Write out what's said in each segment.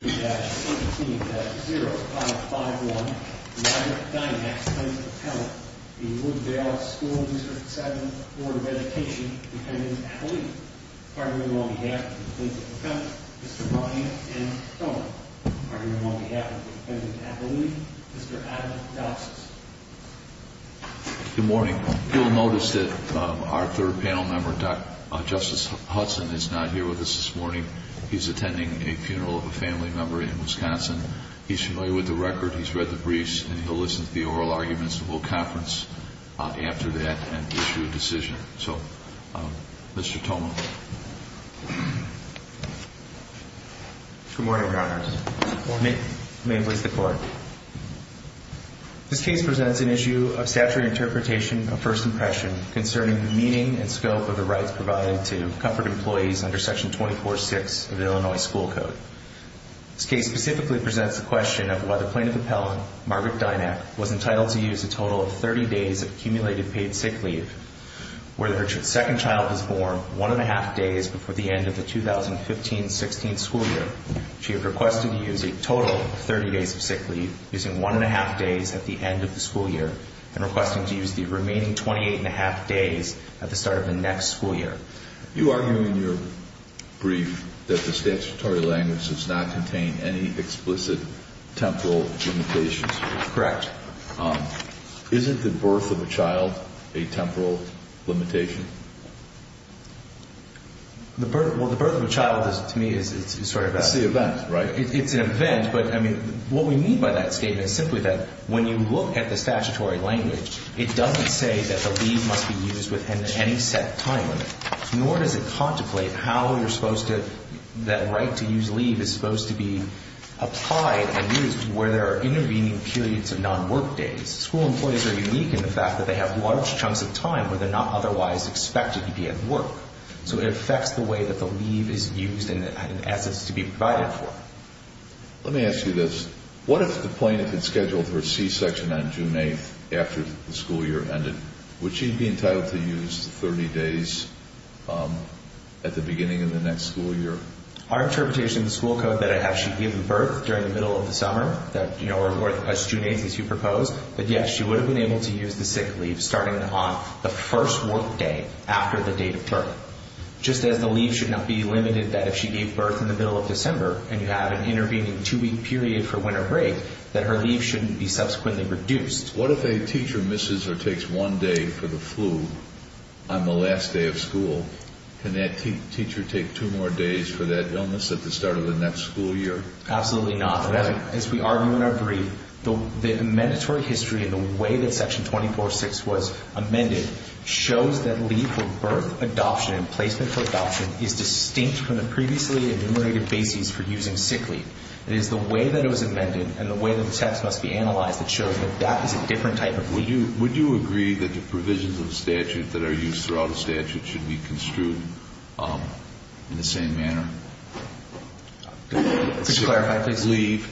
0551 Ryan Dynak, 10th Attorney, the Wood Dale School District 7 Board of Education Defendant, Appellee. Partnering on behalf of the Defense Attorney, Mr. Ryan M. Doma. Partnering on behalf of the Defendant, Appellee, Mr. Adam Dawson. Good morning. You'll notice that our third panel member, Justice Hudson, is not here with us this morning. He's attending a funeral of a family member in Wisconsin. He's familiar with the record. He's read the briefs and he'll listen to the oral arguments and we'll conference after that and issue a decision. So, Mr. Doma. Good morning, Your Honors. May it please the Court. This case presents an issue of statutory interpretation of first impression concerning the meaning and scope of the rights provided to comfort employees under Section 24-6 of the Illinois School Code. This case specifically presents the question of why the plaintiff appellant, Margaret Dynak, was entitled to use a total of 30 days of accumulated paid sick leave, where the second child was born one and a half days before the end of the 2015-16 school year. She had requested to use a total of 30 days of sick leave, using one and a half days at the end of the school year and requesting to use the remaining 28 and a half days at the start of the next school year. You argue in your brief that the statutory language does not contain any explicit temporal limitations. Correct. Isn't the birth of a child a temporal limitation? The birth of a child to me is sort of a... It's the event, right? It's an event, but I mean, what we mean by that statement is simply that when you look at the statutory language, it doesn't say that the leave must be used within any set time limit. Nor does it contemplate how you're supposed to, that right to use leave is supposed to be applied and used where there are intervening periods of non-work days. School employees are unique in the fact that they have large chunks of time where they're not otherwise expected to be at work. So it affects the way that the leave is used and assets to be provided for. Let me ask you this. What if the plaintiff had scheduled her C-section on June 8th after the school year ended? Would she be entitled to use 30 days at the beginning of the next school year? Our interpretation of the school code that I have, she gave birth during the middle of the summer that, you know, or as June 8th as you propose, but yes, she would have been able to use the sick leave starting on the first work day after the date of birth. Just as the leave should not be limited that if she gave birth in the middle of December and you have an intervening two week period for winter break, that her leave shouldn't be subsequently reduced. What if a teacher misses or takes one day for the flu on the last day of school? Can that teacher take two more days for that illness at the start of the next school year? Absolutely not. As we argue in our brief, the mandatory history and the way that section 24.6 was amended shows that leave for birth adoption and placement for adoption is distinct from the previously enumerated basis for using sick leave. It is the way that it was amended and the way that the text must be analyzed that that is a different type of leave. Would you agree that the provisions of the statute that are used throughout the statute should be construed in the same manner? Just to clarify, please.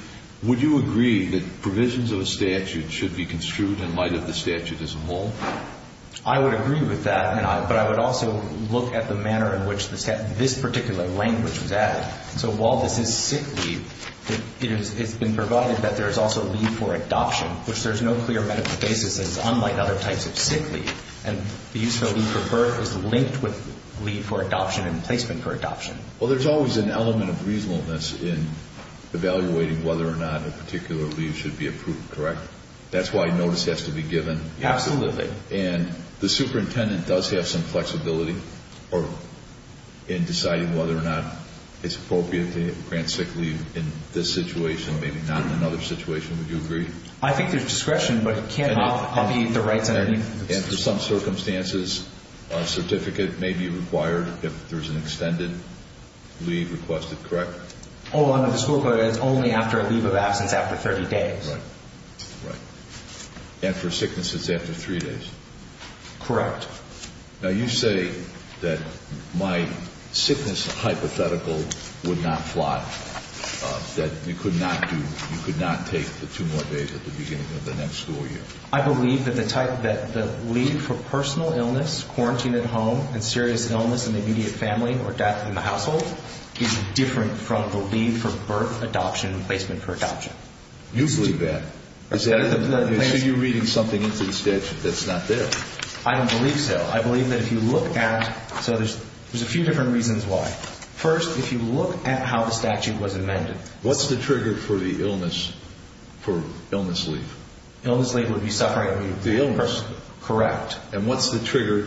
Would you agree that provisions of a statute should be construed in light of the statute as a whole? I would agree with that, but I would also look at the manner in which this particular language was added. So while this is sick leave, it has been provided that there is also leave for adoption, which there's no clear medical basis. It's unlike other types of sick leave, and the use of a leave for birth is linked with leave for adoption and placement for adoption. Well, there's always an element of reasonableness in evaluating whether or not a particular leave should be approved, correct? That's why notice has to be given. Absolutely. And the superintendent does have some flexibility in deciding whether or not it's appropriate to grant sick leave in this situation, maybe not in another situation. Would you agree? I think there's discretion, but it can't be the right thing. And for some circumstances, a certificate may be required if there's an extended leave requested, correct? Oh, under the school code, it's only after a leave of absence after 30 days. Right. And for sicknesses after three days? Correct. Now you say that my sickness hypothetical would not fly, that you could not do, you can't go to the next school year. I believe that the type that the leave for personal illness, quarantine at home, and serious illness in the immediate family or death in the household is different from the leave for birth, adoption, and placement for adoption. You believe that? Is that it? Is that the plan? So you're reading something into the statute that's not there? I don't believe so. I believe that if you look at, so there's a few different reasons why. First, if you look at how the statute was amended. What's the trigger for the illness, for illness leave? Illness leave would be suffering the person, correct. And what's the trigger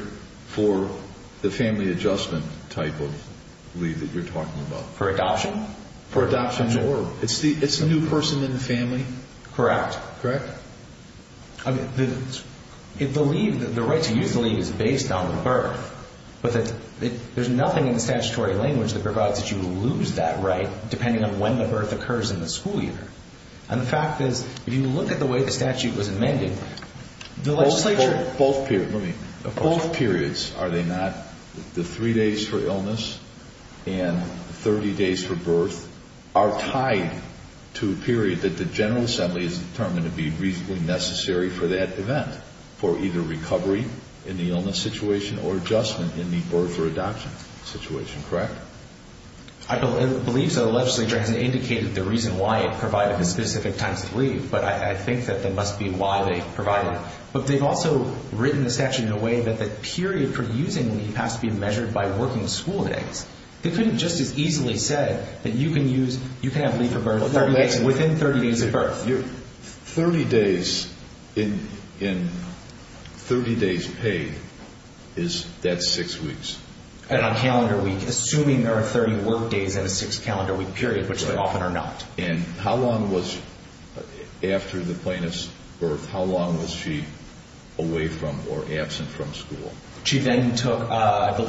for the family adjustment type of leave that you're talking about? For adoption? For adoption, it's the new person in the family? Correct. Correct. I mean, the leave, the right to use the leave is based on the birth, but there's nothing in the statutory language that provides that you lose that right depending on when the birth occurs in the school year. And the fact is, if you look at the way the statute was amended, the legislature. Both periods, are they not the three days for illness and 30 days for birth are tied to a period that the general assembly is determined to be reasonably necessary for that event, for either recovery in the illness situation or adjustment in the birth or adoption situation, correct? I believe so. The legislature hasn't indicated the reason why it provided the specific times to leave, but I think that there must be why they provided it. But they've also written the statute in a way that the period for using the leave has to be measured by working school days. They couldn't just as easily say that you can use, you can have leave for birth within 30 days of birth. 30 days in, in 30 days paid is that six weeks. And on calendar week, assuming there are 30 work days in a six calendar week period, which they often are not. And how long was, after the plaintiff's birth, how long was she away from or absent from school? She then took,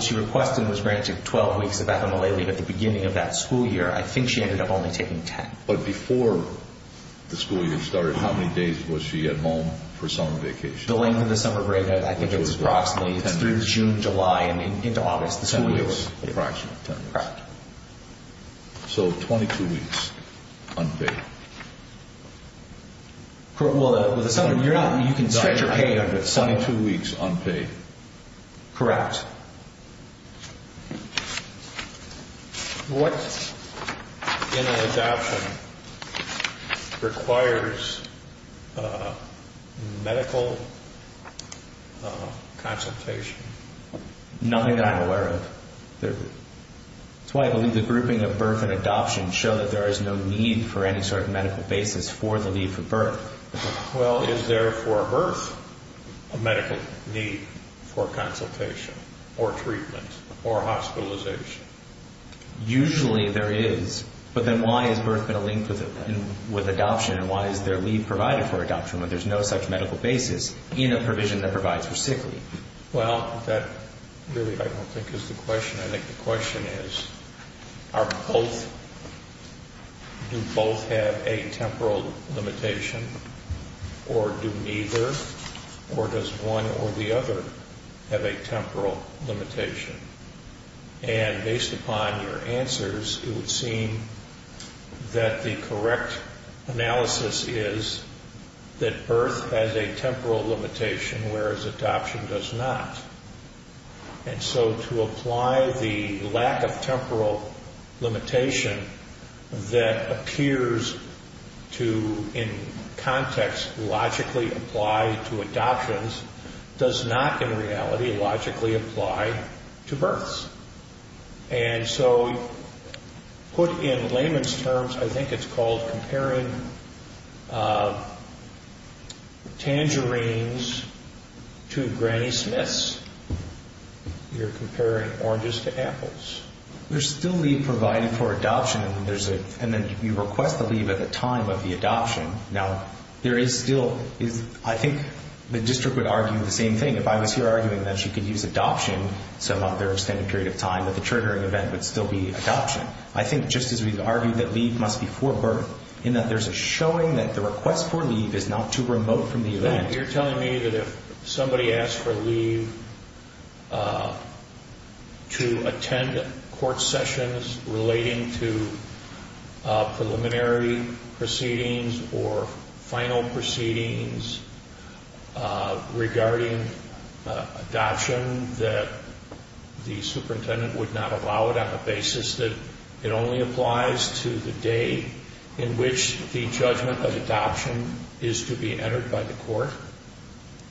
she requested and was granted 12 weeks of FMLA leave at the beginning of that school year. I think she ended up only taking 10. But before the school year started, how many days was she at home for summer vacation? The length of the summer break, I think it was approximately, it's through June, July and into August, the school year. Approximately 10 weeks. So 22 weeks unpaid. Correct. Well, with the summer, you're not, you can stretch your pay under the summer. 22 weeks unpaid. Correct. What in an adoption requires a medical consultation? Nothing that I'm aware of. That's why I believe the grouping of birth and adoption show that there is no need for any sort of medical basis for the leave for birth. Well, is there for birth a medical need for consultation or treatment or hospitalization? Usually there is, but then why is birth going to link with adoption and why is there leave provided for adoption when there's no such medical basis in a provision that provides for sick leave? Well, that really I don't think is the question. I think the question is, are both, do both have a temporal limitation or do neither or does one or the other have a temporal limitation? And based upon your answers, it would seem that the correct analysis is that adoption does not. And so to apply the lack of temporal limitation that appears to, in context, logically apply to adoptions does not in reality logically apply to births. And so put in layman's terms, I think it's called comparing tangerines to Granny Smith's. You're comparing oranges to apples. There's still leave provided for adoption and then you request the leave at the time of the adoption. Now, there is still, I think the district would argue the same thing. If I was here arguing that she could use adoption some other extended period of time, that the triggering event would still be adoption. I think just as we've argued that leave must be for birth, in that there's a showing that the request for leave is not too remote from the event. You're telling me that if somebody asked for leave to attend court sessions relating to preliminary proceedings or final proceedings regarding adoption, that the superintendent would not allow it on the basis that it only applies to the day in which the judgment of adoption is to be entered by the court.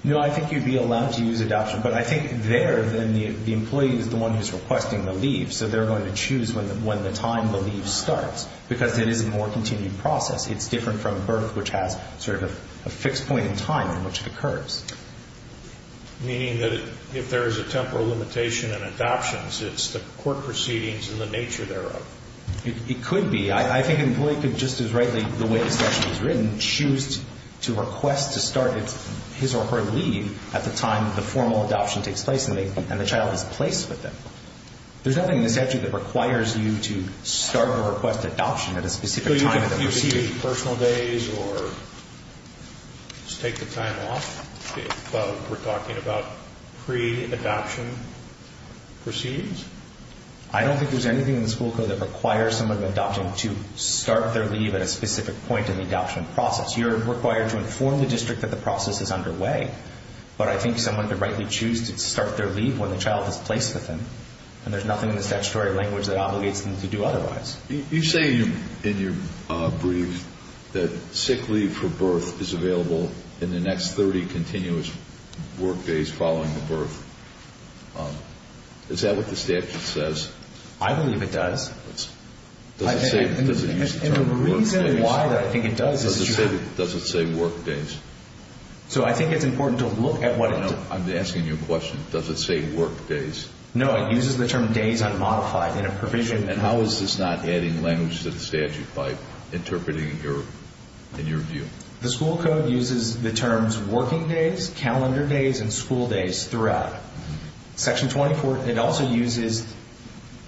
No, I think you'd be allowed to use adoption. But I think there, then the employee is the one who's requesting the leave. So they're going to choose when the time the leave starts because it is a more continued process. It's different from birth, which has sort of a fixed point in time in which it occurs. Meaning that if there is a temporal limitation in adoptions, it's the court proceedings and the nature thereof. It could be. I think an employee could just as rightly, the way the session is written, choose to request to start his or her leave at the time the formal adoption takes place and the child is placed with them. There's nothing in this statute that requires you to start a request adoption at a specific time of the proceedings. So you could take personal days or just take the time off, if we're talking about pre-adoption proceedings? I don't think there's anything in the school code that requires someone in adopting to start their leave at a specific point in the adoption process. You're required to inform the district that the process is underway, but I think someone could rightly choose to start their leave when the child is placed with them and there's nothing in the statutory language that obligates them to do otherwise. You say in your brief that sick leave for birth is available in the next 30 continuous work days following the birth. Is that what the statute says? I believe it does. Does it say work days? So I think it's important to look at what it does. I'm asking you a question. Does it say work days? No, it uses the term days unmodified in a provision. And how is this not adding language to the statute by interpreting in your view? The school code uses the terms working days, calendar days, and school days throughout. Section 24, it also uses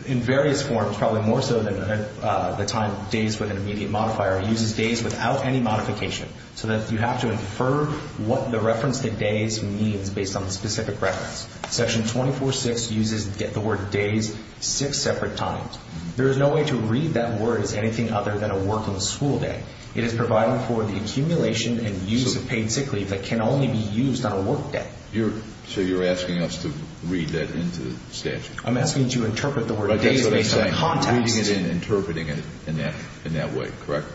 in various forms, probably more so than the time days with an immediate modifier, it uses days without any modification so that you have to infer what the reference to days means based on the specific reference. Section 24.6 uses the word days six separate times. There is no way to read that word as anything other than a work and school day. It is providing for the accumulation and use of paid sick leave that can only be used on a work day. You're so you're asking us to read that into the statute. I'm asking you to interpret the word days based on context. Reading it and interpreting it in that in that way. Correct?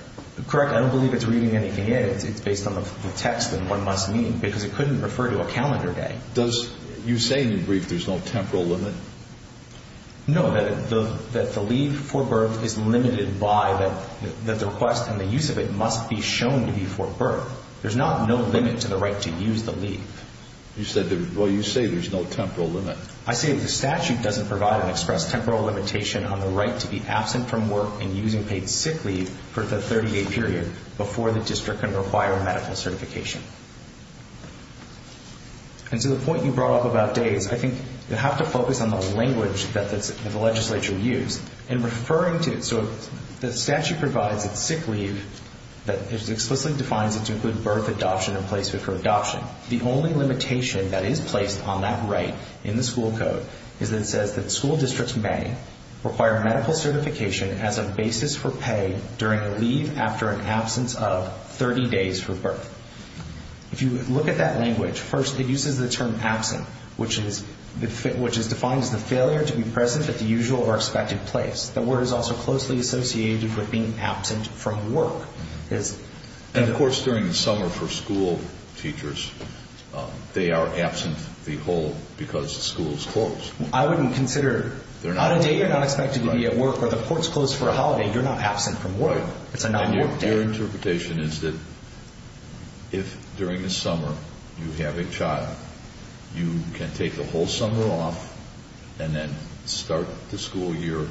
Correct. I don't believe it's reading anything in. It's based on the text and what it must mean because it couldn't refer to a calendar day. Does you say in the brief there's no temporal limit? No, that the leave for birth is limited by that the request and the use of it must be shown to be for birth. There's not no limit to the right to use the leave. You said, well, you say there's no temporal limit. I say the statute doesn't provide an express temporal limitation on the right to be absent from work and using paid sick leave for the 30 day period before the district can require medical certification. And to the point you brought up about days, I think you have to focus on the language that the legislature used in referring to it. So the statute provides that sick leave that explicitly defines it to include birth adoption in place for adoption. The only limitation that is placed on that right in the school code is that it says that school districts may require medical certification as a basis for pay during a leave after an absence of 30 days for birth. If you look at that language first, it uses the term absent, which is defined as the failure to be present at the usual or expected place. The word is also closely associated with being absent from work. And of course, during the summer for school teachers, they are absent the whole because the school is closed. I wouldn't consider, on a day you're not expected to be at work or the court's closed for a holiday, you're not absent from work. It's a non-work day. Your interpretation is that if during the summer you have a child, you can take the whole summer off and then start the school year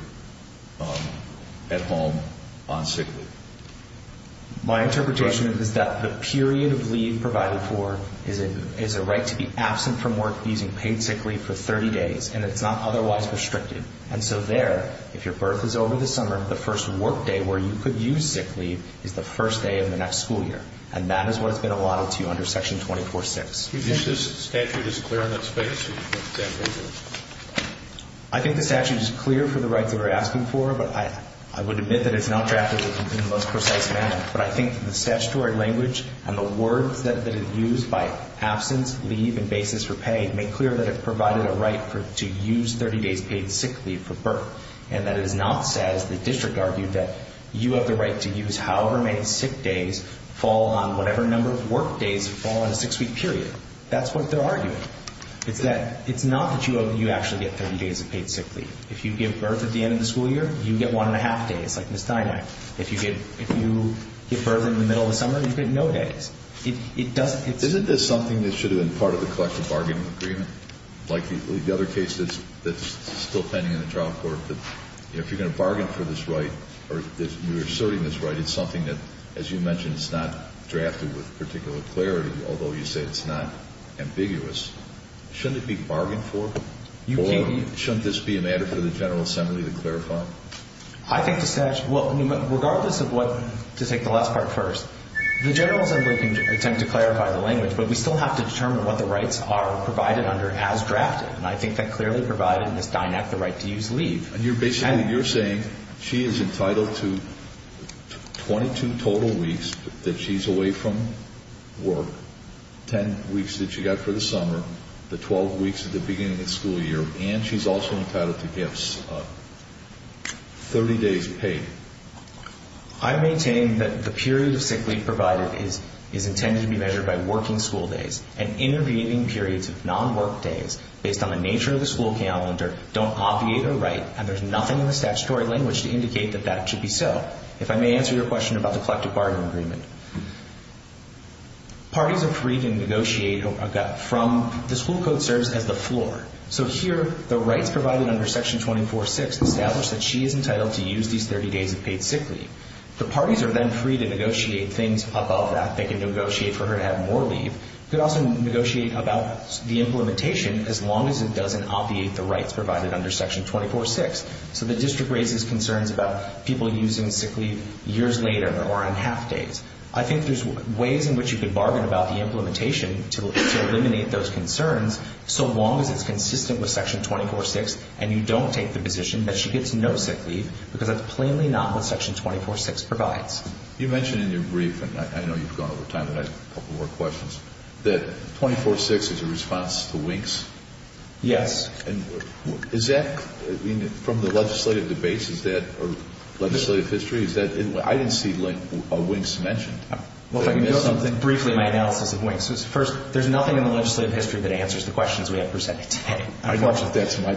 at home on sick leave. My interpretation is that the period of leave provided for is a right to be absent from work using paid sick leave for 30 days, and it's not otherwise restricted. And so there, if your birth is over the summer, the first work day where you could use sick leave is the first day of the next school year. And that is what has been allotted to you under Section 24-6. Do you think this statute is clear in that space? I think the statute is clear for the rights that we're asking for, but I would admit that it's not drafted in the most precise manner. But I think the statutory language and the words that are used by absence, leave, and basis for pay make clear that it provided a right to use 30 days paid sick leave for birth, and that it is not, as the district argued, that you have the right to use however many sick days fall on whatever number of work days fall on a six-week period. That's what they're arguing. It's that it's not that you actually get 30 days of paid sick leave. If you give birth at the end of the school year, you get one and a half days, like Ms. Dynack. If you give, if you give birth in the middle of the summer, you get no days. It doesn't, it's... Isn't this something that should have been part of the collective bargaining agreement? Like the other case that's still pending in the trial court, that if you're going to bargain for this right, or you're asserting this right, it's something that, as you mentioned, it's not drafted with particular clarity, although you say it's not ambiguous. Shouldn't it be bargained for? Or shouldn't this be a matter for the General Assembly to clarify? I think the statute, well, regardless of what, to take the last part first, the General Assembly can attempt to clarify the language, but we still have to determine what the rights are provided under as drafted. And I think that clearly provided Ms. Dynack the right to use leave. And you're basically, you're saying she is entitled to 22 total weeks that she's away from work, 10 weeks that she got for the summer, the 12 weeks at the beginning of the school year. And she's also entitled to gifts of 30 days paid. I maintain that the period of sick leave provided is intended to be measured by working school days and intervening periods of non-work days based on the nature of the school calendar don't obviate a right. And there's nothing in the statutory language to indicate that that should be so. If I may answer your question about the collective bargaining agreement. Parties are free to negotiate from, the school code serves as the floor. So here, the rights provided under Section 24.6 establish that she is entitled to use these 30 days of paid sick leave. The parties are then free to negotiate things above that. They can negotiate for her to have more leave. Could also negotiate about the implementation as long as it doesn't obviate the rights provided under Section 24.6. So the district raises concerns about people using sick leave years later or on half days. I think there's ways in which you can bargain about the implementation to eliminate those concerns. So long as it's consistent with Section 24.6 and you don't take the position that she gets no sick leave because that's plainly not what Section 24.6 provides. You mentioned in your brief, and I know you've gone over time and I have a couple more questions, that 24.6 is a response to WINKS. Yes. Is that from the legislative debates? Is that a legislative history? I didn't see WINKS mentioned. Well, if I can go something briefly, my analysis of WINKS. First, there's nothing in the legislative history that answers the questions we have presented today. I don't know if that's my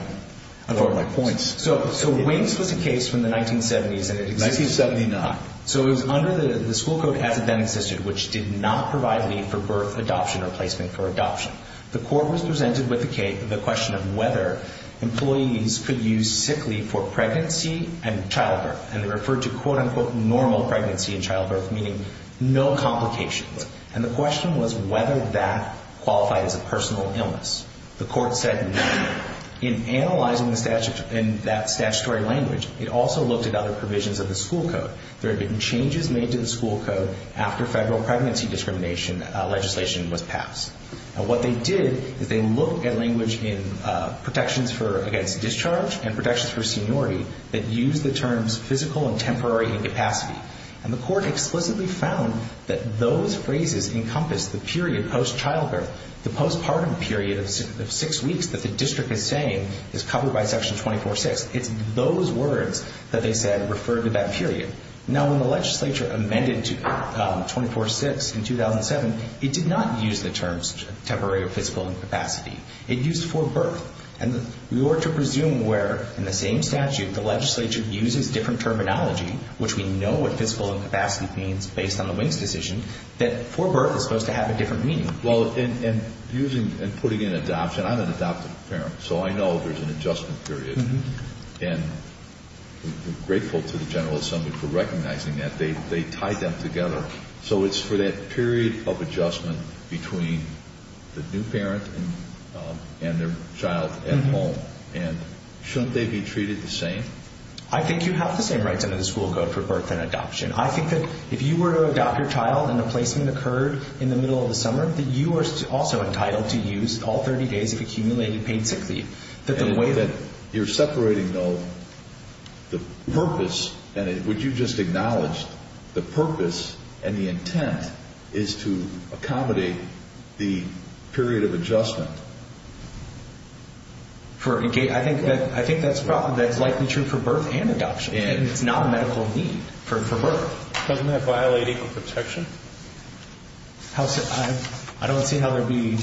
point. So WINKS was a case from the 1970s. And it existed. So it was under the school code as it then existed, which did not provide leave for birth, adoption or placement for adoption. The court was presented with the question of whether employees could use sick leave for pregnancy and childbirth. And they referred to quote unquote normal pregnancy and childbirth, meaning no complications. And the question was whether that qualified as a personal illness. The court said no. In analyzing the statute and that statutory language, it also looked at other provisions of the school code. There have been changes made to the school code after federal pregnancy discrimination legislation was passed. What they did is they looked at language in protections for against discharge and protections for seniority that use the terms physical and temporary incapacity. And the court explicitly found that those phrases encompass the period post childbirth, the postpartum period of six weeks that the district is saying is covered by Section 24-6. It's those words that they said referred to that period. Now, when the legislature amended to 24-6 in 2007, it did not use the terms temporary or physical incapacity. It used for birth. And we were to presume where in the same statute the legislature uses different terminology, which we know what physical incapacity means based on the Wink's decision, that for birth is supposed to have a different meaning. Well, and using and putting in adoption, I'm an adoptive parent, so I know there's an adjustment period. And we're grateful to the General Assembly for recognizing that. They tied them together. So it's for that period of adjustment between the new parent and their child at home. And shouldn't they be treated the same? I think you have the same rights under the school code for birth and adoption. I think that if you were to adopt your child and a placement occurred in the middle of the summer, that you are also entitled to use all 30 days of accumulated paid sick leave. And the way that you're separating, though, the purpose and what you just acknowledged, the purpose and the intent is to accommodate the period of for a gate. I think that I think that's probably that's likely true for birth and adoption. And it's not a medical need for for birth. Doesn't that violate equal protection? How so? I don't see how there'd be.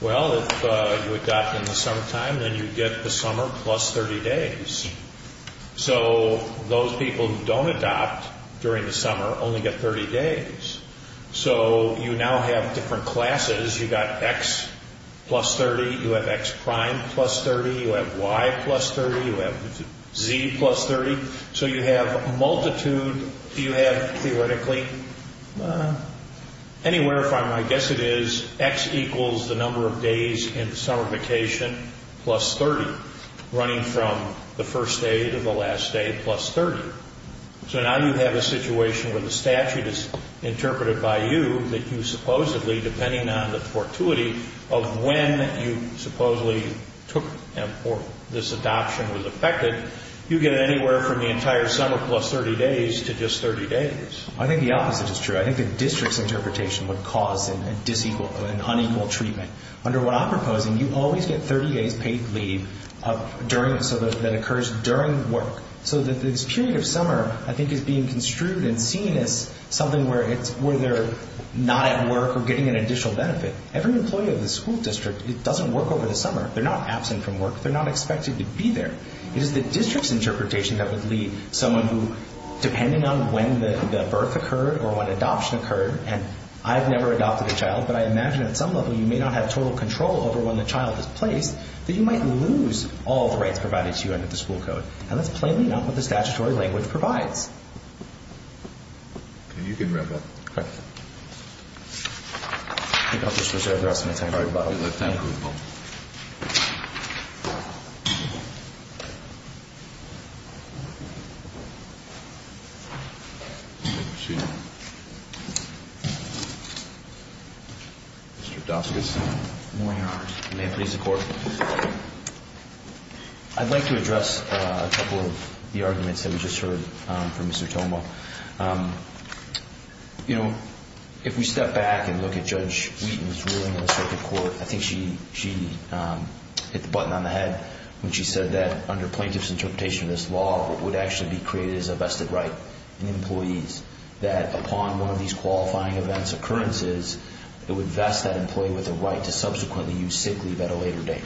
Well, if you adopt in the summertime, then you get the summer plus 30 days. So those people who don't adopt during the summer only get 30 days. So you now have different classes. You got X plus 30, you have X prime plus 30, you have Y plus 30, you have Z plus 30. So you have a multitude. You have theoretically anywhere from I guess it is X equals the number of days in the summer vacation plus 30 running from the first day to the last day plus 30. So now you have a situation where the statute is interpreted by you that you supposedly, depending on the fortuity of when you supposedly took or this adoption was affected, you get anywhere from the entire summer plus 30 days to just 30 days. I think the opposite is true. I think the district's interpretation would cause an unequal treatment. Under what I'm proposing, you always get 30 days paid leave during it so that occurs during work. So that this period of summer, I think, is being construed and seen as something where they're not at work or getting an additional benefit. Every employee of the school district, it doesn't work over the summer. They're not absent from work. They're not expected to be there. It is the district's interpretation that would lead someone who, depending on when the birth occurred or when adoption occurred, and I've never adopted a child, but I imagine at some level you may not have total control over when the child is placed, that you might lose all the rights provided to you under the school code. And that's plainly not what the statutory language provides. OK, you can wrap up. OK. I think I'll just reserve the rest of my time for rebuttal. You have time for rebuttal. Mr. Doskus. Good morning, Your Honor. May it please the Court. I'd like to address a couple of the arguments that we just heard from the Mr. Toma. You know, if we step back and look at Judge Wheaton's ruling in the circuit court, I think she hit the button on the head when she said that under plaintiff's interpretation of this law, what would actually be created is a vested right in employees that upon one of these qualifying events, occurrences, it would vest that employee with the right to subsequently use sick leave at a later date.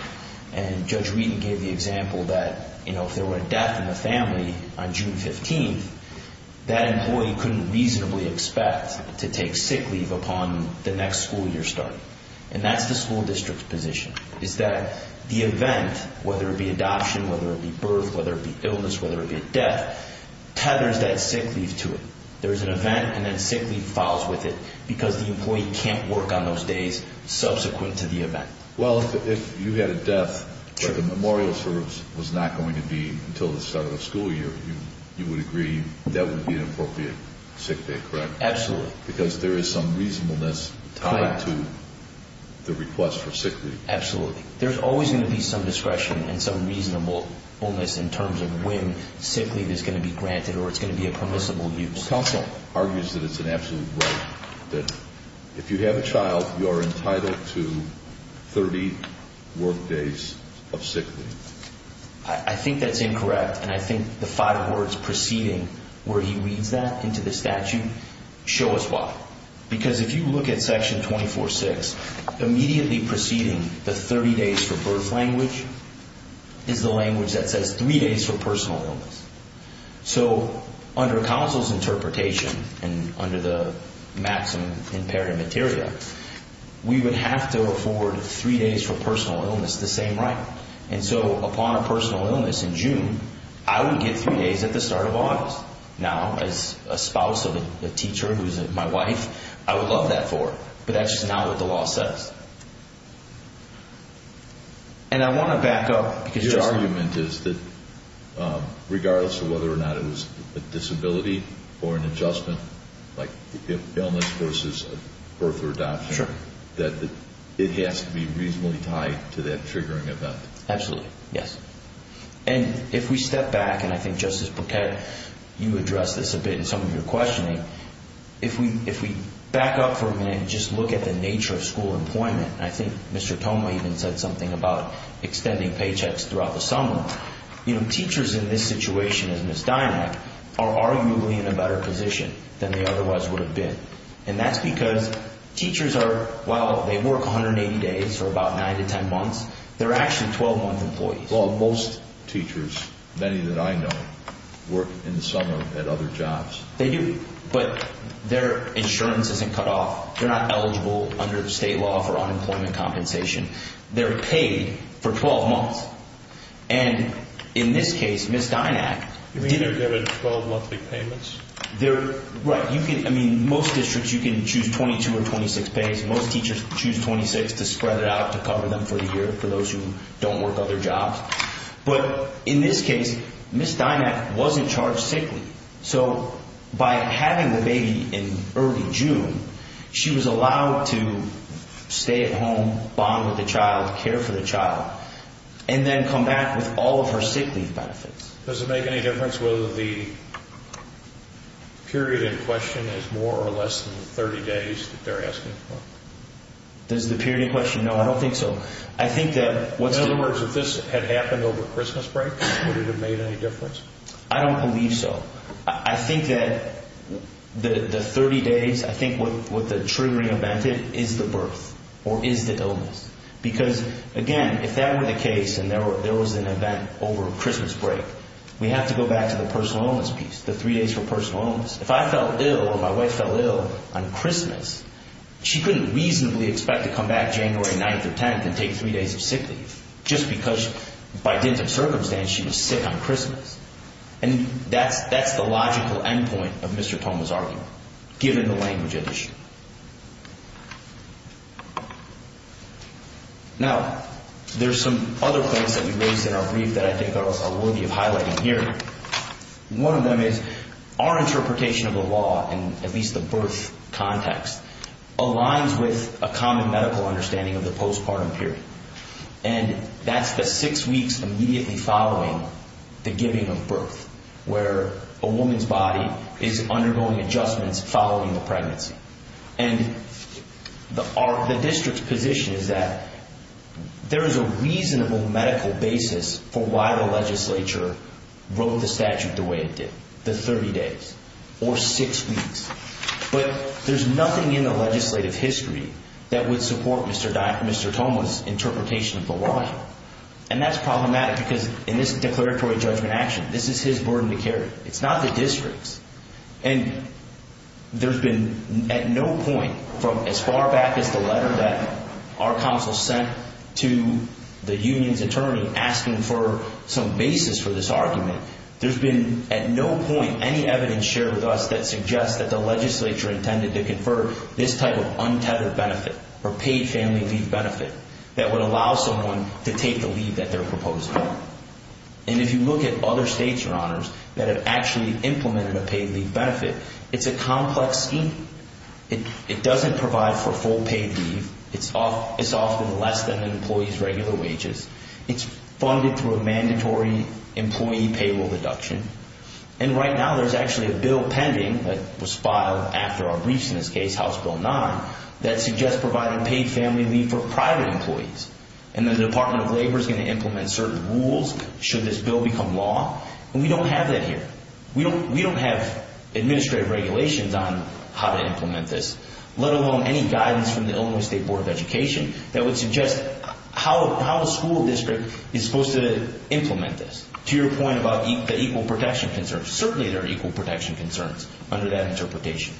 And Judge Wheaton gave the example that, you know, if there were a death in the 15th, that employee couldn't reasonably expect to take sick leave upon the next school year starting. And that's the school district's position, is that the event, whether it be adoption, whether it be birth, whether it be illness, whether it be a death, tethers that sick leave to it. There's an event and then sick leave follows with it because the employee can't work on those days subsequent to the event. Well, if you had a death where the memorial service was not going to be until the start of the school year, you would agree that would be an appropriate sick day, correct? Absolutely. Because there is some reasonableness tied to the request for sick leave. Absolutely. There's always going to be some discretion and some reasonableness in terms of when sick leave is going to be granted or it's going to be a permissible use. Counsel. Argues that it's an absolute right that if you have a child, you are entitled to 30 work days of sick leave. I think that's incorrect and I think the five words preceding where he reads that into the statute show us why. Because if you look at Section 24.6, immediately preceding the 30 days for birth language is the language that says three days for personal illness. So under counsel's interpretation and under the maximum imperative materia, we would have to afford three days for personal illness, the same right? And so upon a personal illness in June, I would get three days at the start of August. Now, as a spouse of a teacher who's my wife, I would love that for her. But that's just not what the law says. And I want to back up. Your argument is that regardless of whether or not it was a disability or an adjustment, like illness versus birth or adoption, that it has to be reasonably tied to that triggering event. Absolutely. Yes. And if we step back, and I think Justice Burkett, you addressed this a bit in some of your questioning, if we back up for a minute and just look at the nature of school employment, I think Mr. Toma even said something about extending paychecks throughout the summer. You know, teachers in this situation, as Ms. Dynack, are arguably in a better position than they otherwise would have been. And that's because teachers are, while they work 180 days for about 9 to 10 months, they're actually 12-month employees. Well, most teachers, many that I know, work in the summer at other jobs. They do. But their insurance isn't cut off. They're not eligible under state law for unemployment compensation. They're paid for 12 months. And in this case, Ms. Dynack didn't- You mean they're given 12-monthly payments? Right. I mean, most districts you can choose 22 or 26 pays. Most teachers choose 26 to spread it out, to cover them for the year for those who don't work other jobs. But in this case, Ms. Dynack wasn't charged sick leave. So by having the baby in early June, she was allowed to stay at home, bond with the child, care for the child, and then come back with all of her sick leave benefits. Does it make any difference whether the period in question is more or less than 30 days that they're asking for? Does the period in question? No, I don't think so. I think that what's- In other words, if this had happened over Christmas break, would it have made any difference? I don't believe so. I think that the 30 days, I think what the triggering event is, is the birth or is the illness. Because, again, if that were the case and there was an event over Christmas break, we have to go back to the personal illness piece, the three days for personal illness. If I fell ill or my wife fell ill on Christmas, she couldn't reasonably expect to come back January 9th or 10th and take three days of sick leave, just because by dint of circumstance, she was sick on Christmas. And that's the logical endpoint of Mr. Toma's argument, given the language at issue. Now, there's some other points that we raised in our brief that I think are worthy of highlighting here. One of them is our interpretation of the law, and at least the birth context, aligns with a common medical understanding of the postpartum period. And that's the six weeks immediately following the giving of birth, where a child is born. And the district's position is that there is a reasonable medical basis for why the legislature wrote the statute the way it did, the 30 days or six weeks. But there's nothing in the legislative history that would support Mr. Toma's interpretation of the law. And that's problematic, because in this declaratory judgment action, this is his burden to carry. It's not the district's. And there's been at no point from as far back as the letter that our counsel sent to the union's attorney asking for some basis for this argument, there's been at no point any evidence shared with us that suggests that the legislature intended to confer this type of untethered benefit or paid family leave benefit that would allow someone to take the leave that they're proposing. And if you look at other states, Your Honors, that have actually implemented a paid leave benefit. It's a complex scheme. It doesn't provide for full paid leave. It's often less than an employee's regular wages. It's funded through a mandatory employee payroll deduction. And right now, there's actually a bill pending that was filed after our briefs in this case, House Bill 9, that suggests providing paid family leave for private employees. And the Department of Labor is going to implement certain rules should this bill become law. And we don't have that here. We don't have administrative regulations on how to implement this, let alone any guidance from the Illinois State Board of Education that would suggest how a school district is supposed to implement this. To your point about the equal protection concerns, certainly there are equal protection concerns under that interpretation.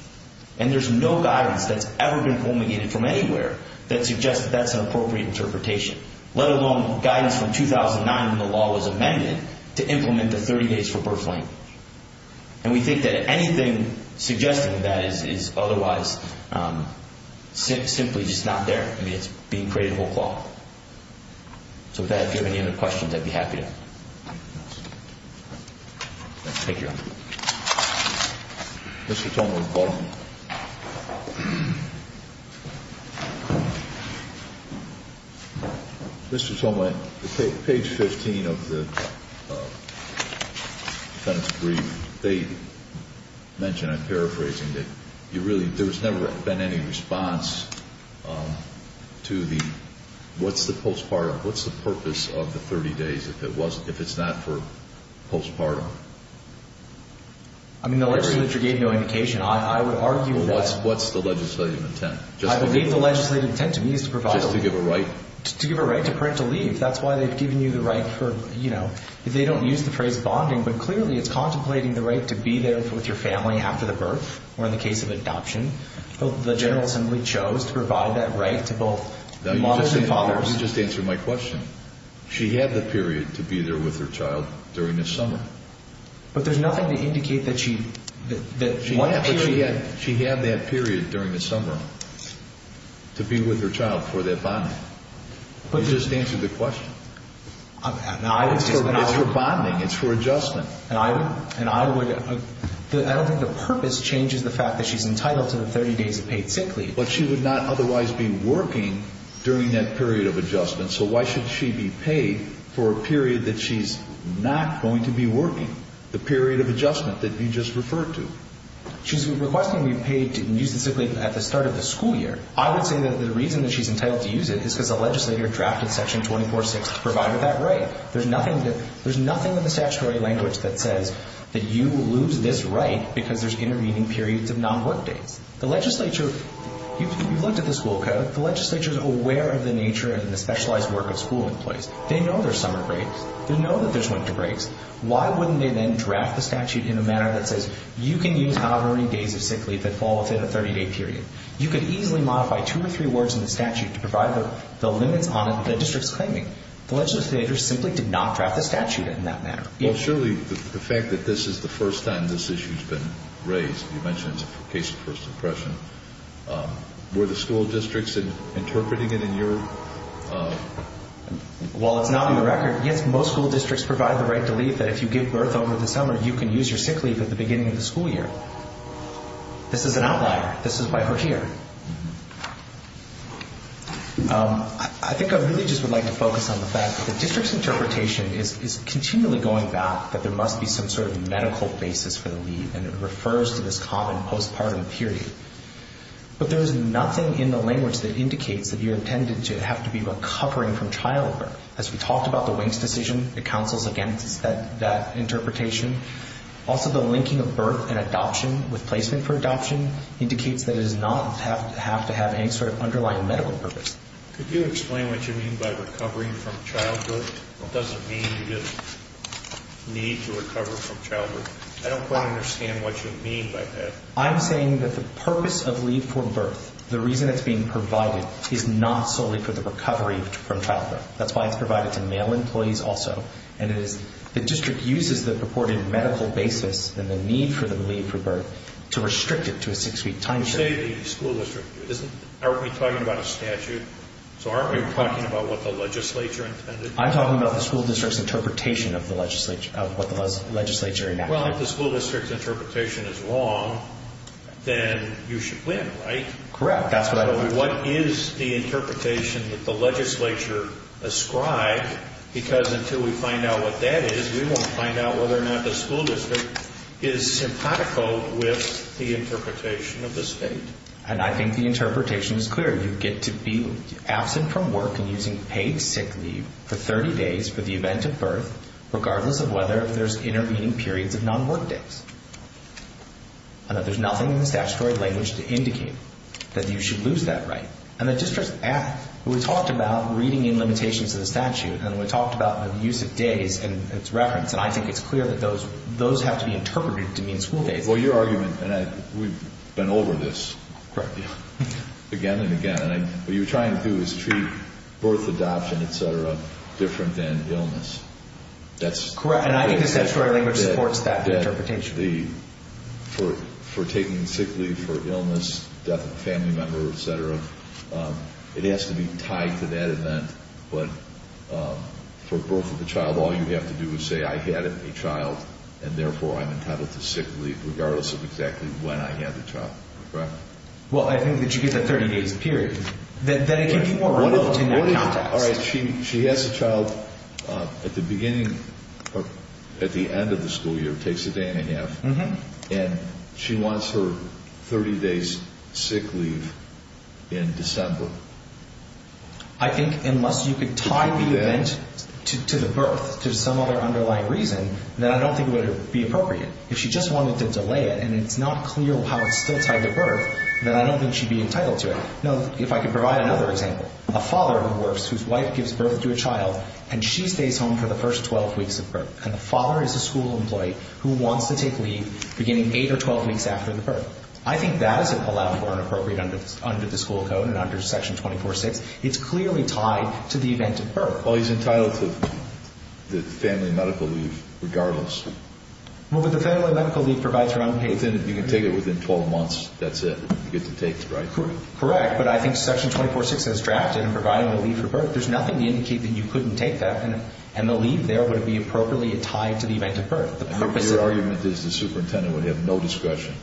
And there's no guidance that's ever been promulgated from anywhere that suggests that that's an appropriate interpretation, let alone guidance from 2009 when the And we think that anything suggesting that is otherwise simply just not there. I mean, it's being created a whole cloth. So with that, if you have any other questions, I'd be happy to. Thank you, Your Honor. Mr. Tolma. Mr. Tolma, page 15 of the defendant's brief, they mention, I'm paraphrasing, that there's never been any response to the what's the postpartum, what's the purpose of the 30 days if it's not for postpartum? I mean, the legislature gave no indication. I would argue that What's the legislative intent? I believe the legislative intent to me is to provide Just to give a right? To give a right to parental leave. That's why they've given you the right for, you know, they don't use the phrase bonding, but clearly it's contemplating the right to be there with your family after the birth or in the case of adoption. The General Assembly chose to provide that right to both mothers and fathers. You just answered my question. She had the period to be there with her child during the summer. But there's nothing to indicate that she, that one period She had that period during the summer to be with her child for that bonding. You just answered the question. It's for bonding, it's for adjustment. And I would, I don't think the purpose changes the fact that she's entitled to the 30 days of paid sick leave. But she would not otherwise be working during that period of adjustment. So why should she be paid for a period that she's not going to be working? The period of adjustment that you just referred to. She's requesting to be paid to use the sick leave at the start of the school year. I would say that the reason that she's entitled to use it is because the legislature drafted section 24-6 to provide her that right. There's nothing that, there's nothing in the statutory language that says that you lose this right because there's intervening periods of non-work days. The legislature, you've looked at the school code. The legislature's aware of the nature and the specialized work of school employees. They know there's summer breaks. They know that there's winter breaks. Why wouldn't they then draft the statute in a manner that says you can use however many days of sick leave that fall within a 30-day period. You could easily modify two or three words in the statute to provide the limits on it that the district's claiming. The legislature simply did not draft the statute in that manner. Well, surely the fact that this is the first time this issue's been raised, you mentioned it's a case of first impression. Were the school districts interpreting it in your... While it's not on the record, yes, most school districts provide the right to leave that if you give birth over the summer, you can use your sick leave at the beginning of the school year. This is an outlier. This is why her here. I think I really just would like to focus on the fact that the district's interpretation is continually going back that there must be some sort of medical basis for the leave, and it refers to this common postpartum period. But there's nothing in the language that indicates that you're intended to have to be recovering from childbirth. As we talked about the Winks decision, it counsels against that interpretation. Also, the linking of birth and adoption with placement for adoption indicates that it does not have to have any sort of underlying medical purpose. Could you explain what you mean by recovering from childhood? What does it mean you just need to recover from childhood? I don't quite understand what you mean by that. I'm saying that the purpose of leave for birth, the reason it's being provided, is not solely for the recovery from childhood. That's why it's provided to male employees also, and it is the district uses the purported medical basis and the need for the leave for birth to restrict it to a six-week time period. You say the school district. Aren't we talking about a statute? So aren't we talking about what the legislature intended? I'm talking about the school district's interpretation of what the legislature enacted. Well, if the school district's interpretation is wrong, then you should win, right? Correct. What is the interpretation that the legislature ascribed? Because until we find out what that is, we won't find out whether or not the school district is simpatico with the interpretation of the state. I think the interpretation is clear. You get to be absent from work and using paid sick leave for 30 days for the event of birth, regardless of whether there's intervening periods of non-work days, and that there's nothing in the statutory language to indicate that you should lose that right. We talked about reading in limitations of the statute, and we talked about the use of days and its reference, and I think it's clear that those have to be interpreted to mean school days. Correct. Again and again. What you're trying to do is treat birth, adoption, et cetera, different than illness. That's correct. And I think the statutory language supports that interpretation. For taking sick leave for illness, death of a family member, et cetera, it has to be tied to that event. But for birth of a child, all you have to do is say, I had a child, and therefore I'm entitled to sick leave, regardless of exactly when I had the child. Correct. Well, I think that you get that 30 days period. Then it can be more relevant in that context. All right. She has a child at the beginning or at the end of the school year, takes a day and a half, and she wants her 30 days sick leave in December. I think unless you could tie the event to the birth to some other underlying reason, then I don't think it would be appropriate. If she just wanted to delay it and it's not clear how it's still tied to birth, then I don't think she'd be entitled to it. Now, if I could provide another example. A father who works whose wife gives birth to a child, and she stays home for the first 12 weeks of birth. And the father is a school employee who wants to take leave beginning 8 or 12 weeks after the birth. I think that isn't allowed for an appropriate under the school code and under Section 246. It's clearly tied to the event of birth. Well, he's entitled to the family medical leave regardless. Well, but the family medical leave provides for unpaid sick leave. You can take it within 12 months. That's it. You get to take it, right? Correct. But I think Section 246 has drafted and provided the leave for birth. There's nothing to indicate that you couldn't take that. And the leave there would be appropriately tied to the event of birth. Your argument is the superintendent would have no discretion.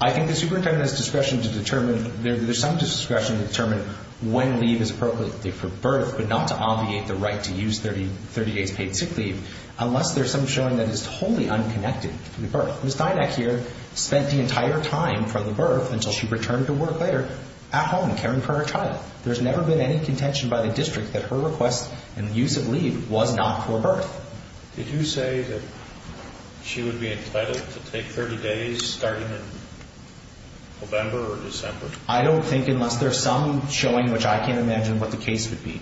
I think the superintendent has discretion to determine. There's some discretion to determine when leave is appropriate for birth, but not to obviate the right to use 30 days paid sick leave unless there's some showing that is totally unconnected to the birth. Ms. Dynack here spent the entire time for the birth until she returned to work later at home caring for her child. There's never been any contention by the district that her request and use of leave was not for birth. Did you say that she would be entitled to take 30 days starting in November or December? I don't think unless there's some showing, which I can't imagine what the case would be,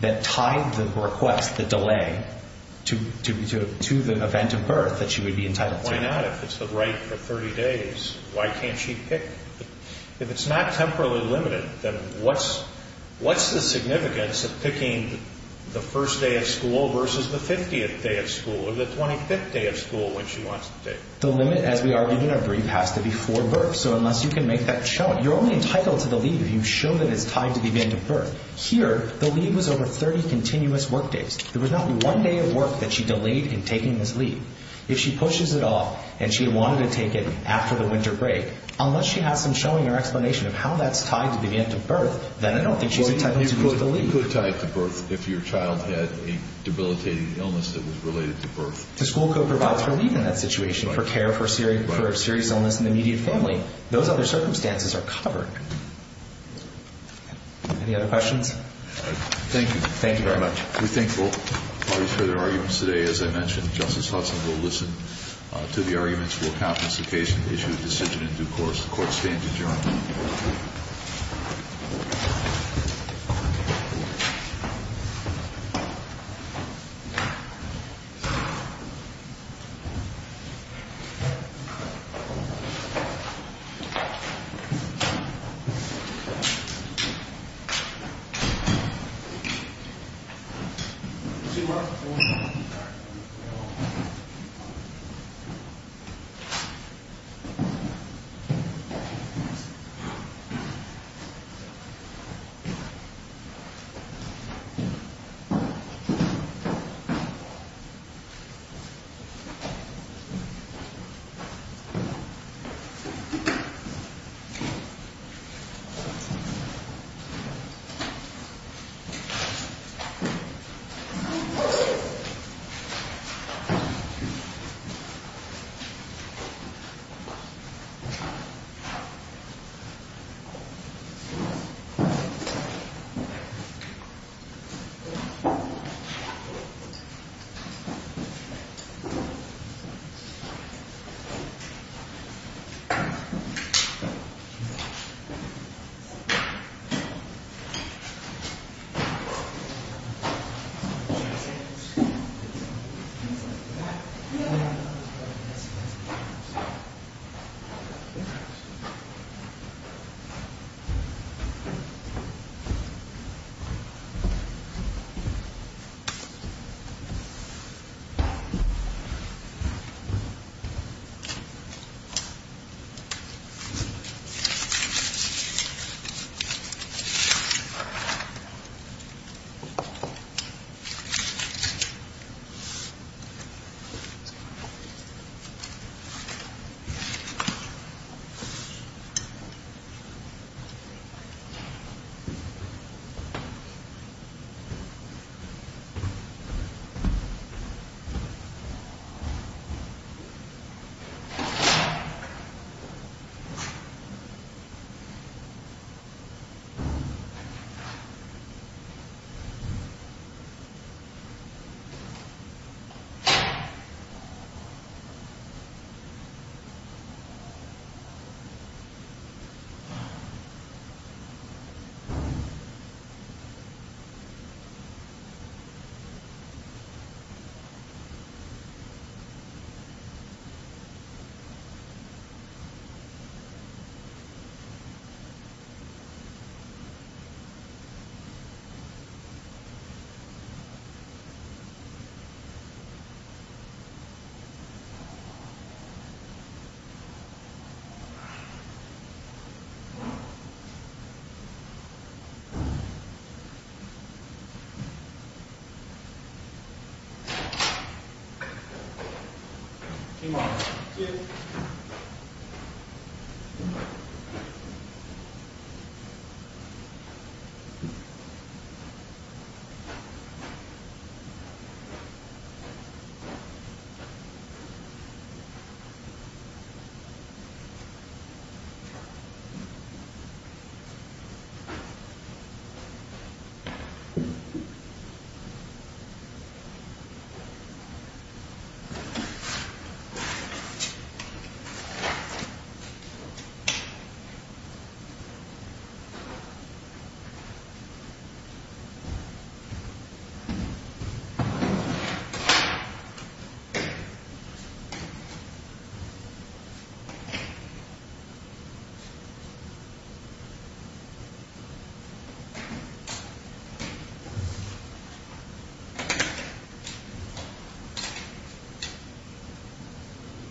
that tied the request, the delay, to the event of birth that she would be entitled to. Why not? If it's the right for 30 days, why can't she pick? If it's not temporarily limited, then what's the significance of picking the first day of school versus the 50th day of school or the 25th day of school when she wants to take? The limit, as we argued in our brief, has to be for birth. So unless you can make that showing, you're only entitled to the leave if you show that it's tied to the event of birth. Here, the leave was over 30 continuous work days. There was not one day of work that she delayed in taking this leave. If she pushes it off and she wanted to take it after the winter break, unless she has some showing or explanation of how that's tied to the event of birth, then I don't think she's entitled to the leave. You could tie it to birth if your child had a debilitating illness that was related to birth. The school code provides relief in that situation for care of serious illness in the immediate family. Those other circumstances are covered. Any other questions? Thank you. Thank you very much. We thank both parties for their arguments today. As I mentioned, Justice Hudson will listen to the arguments. We'll countenance the case and issue a decision in due course. The Court stands adjourned. Thank you. Thank you. Thank you. Thank you. Thank you. Thank you. Thank you. Thank you. Thank you. Thank you.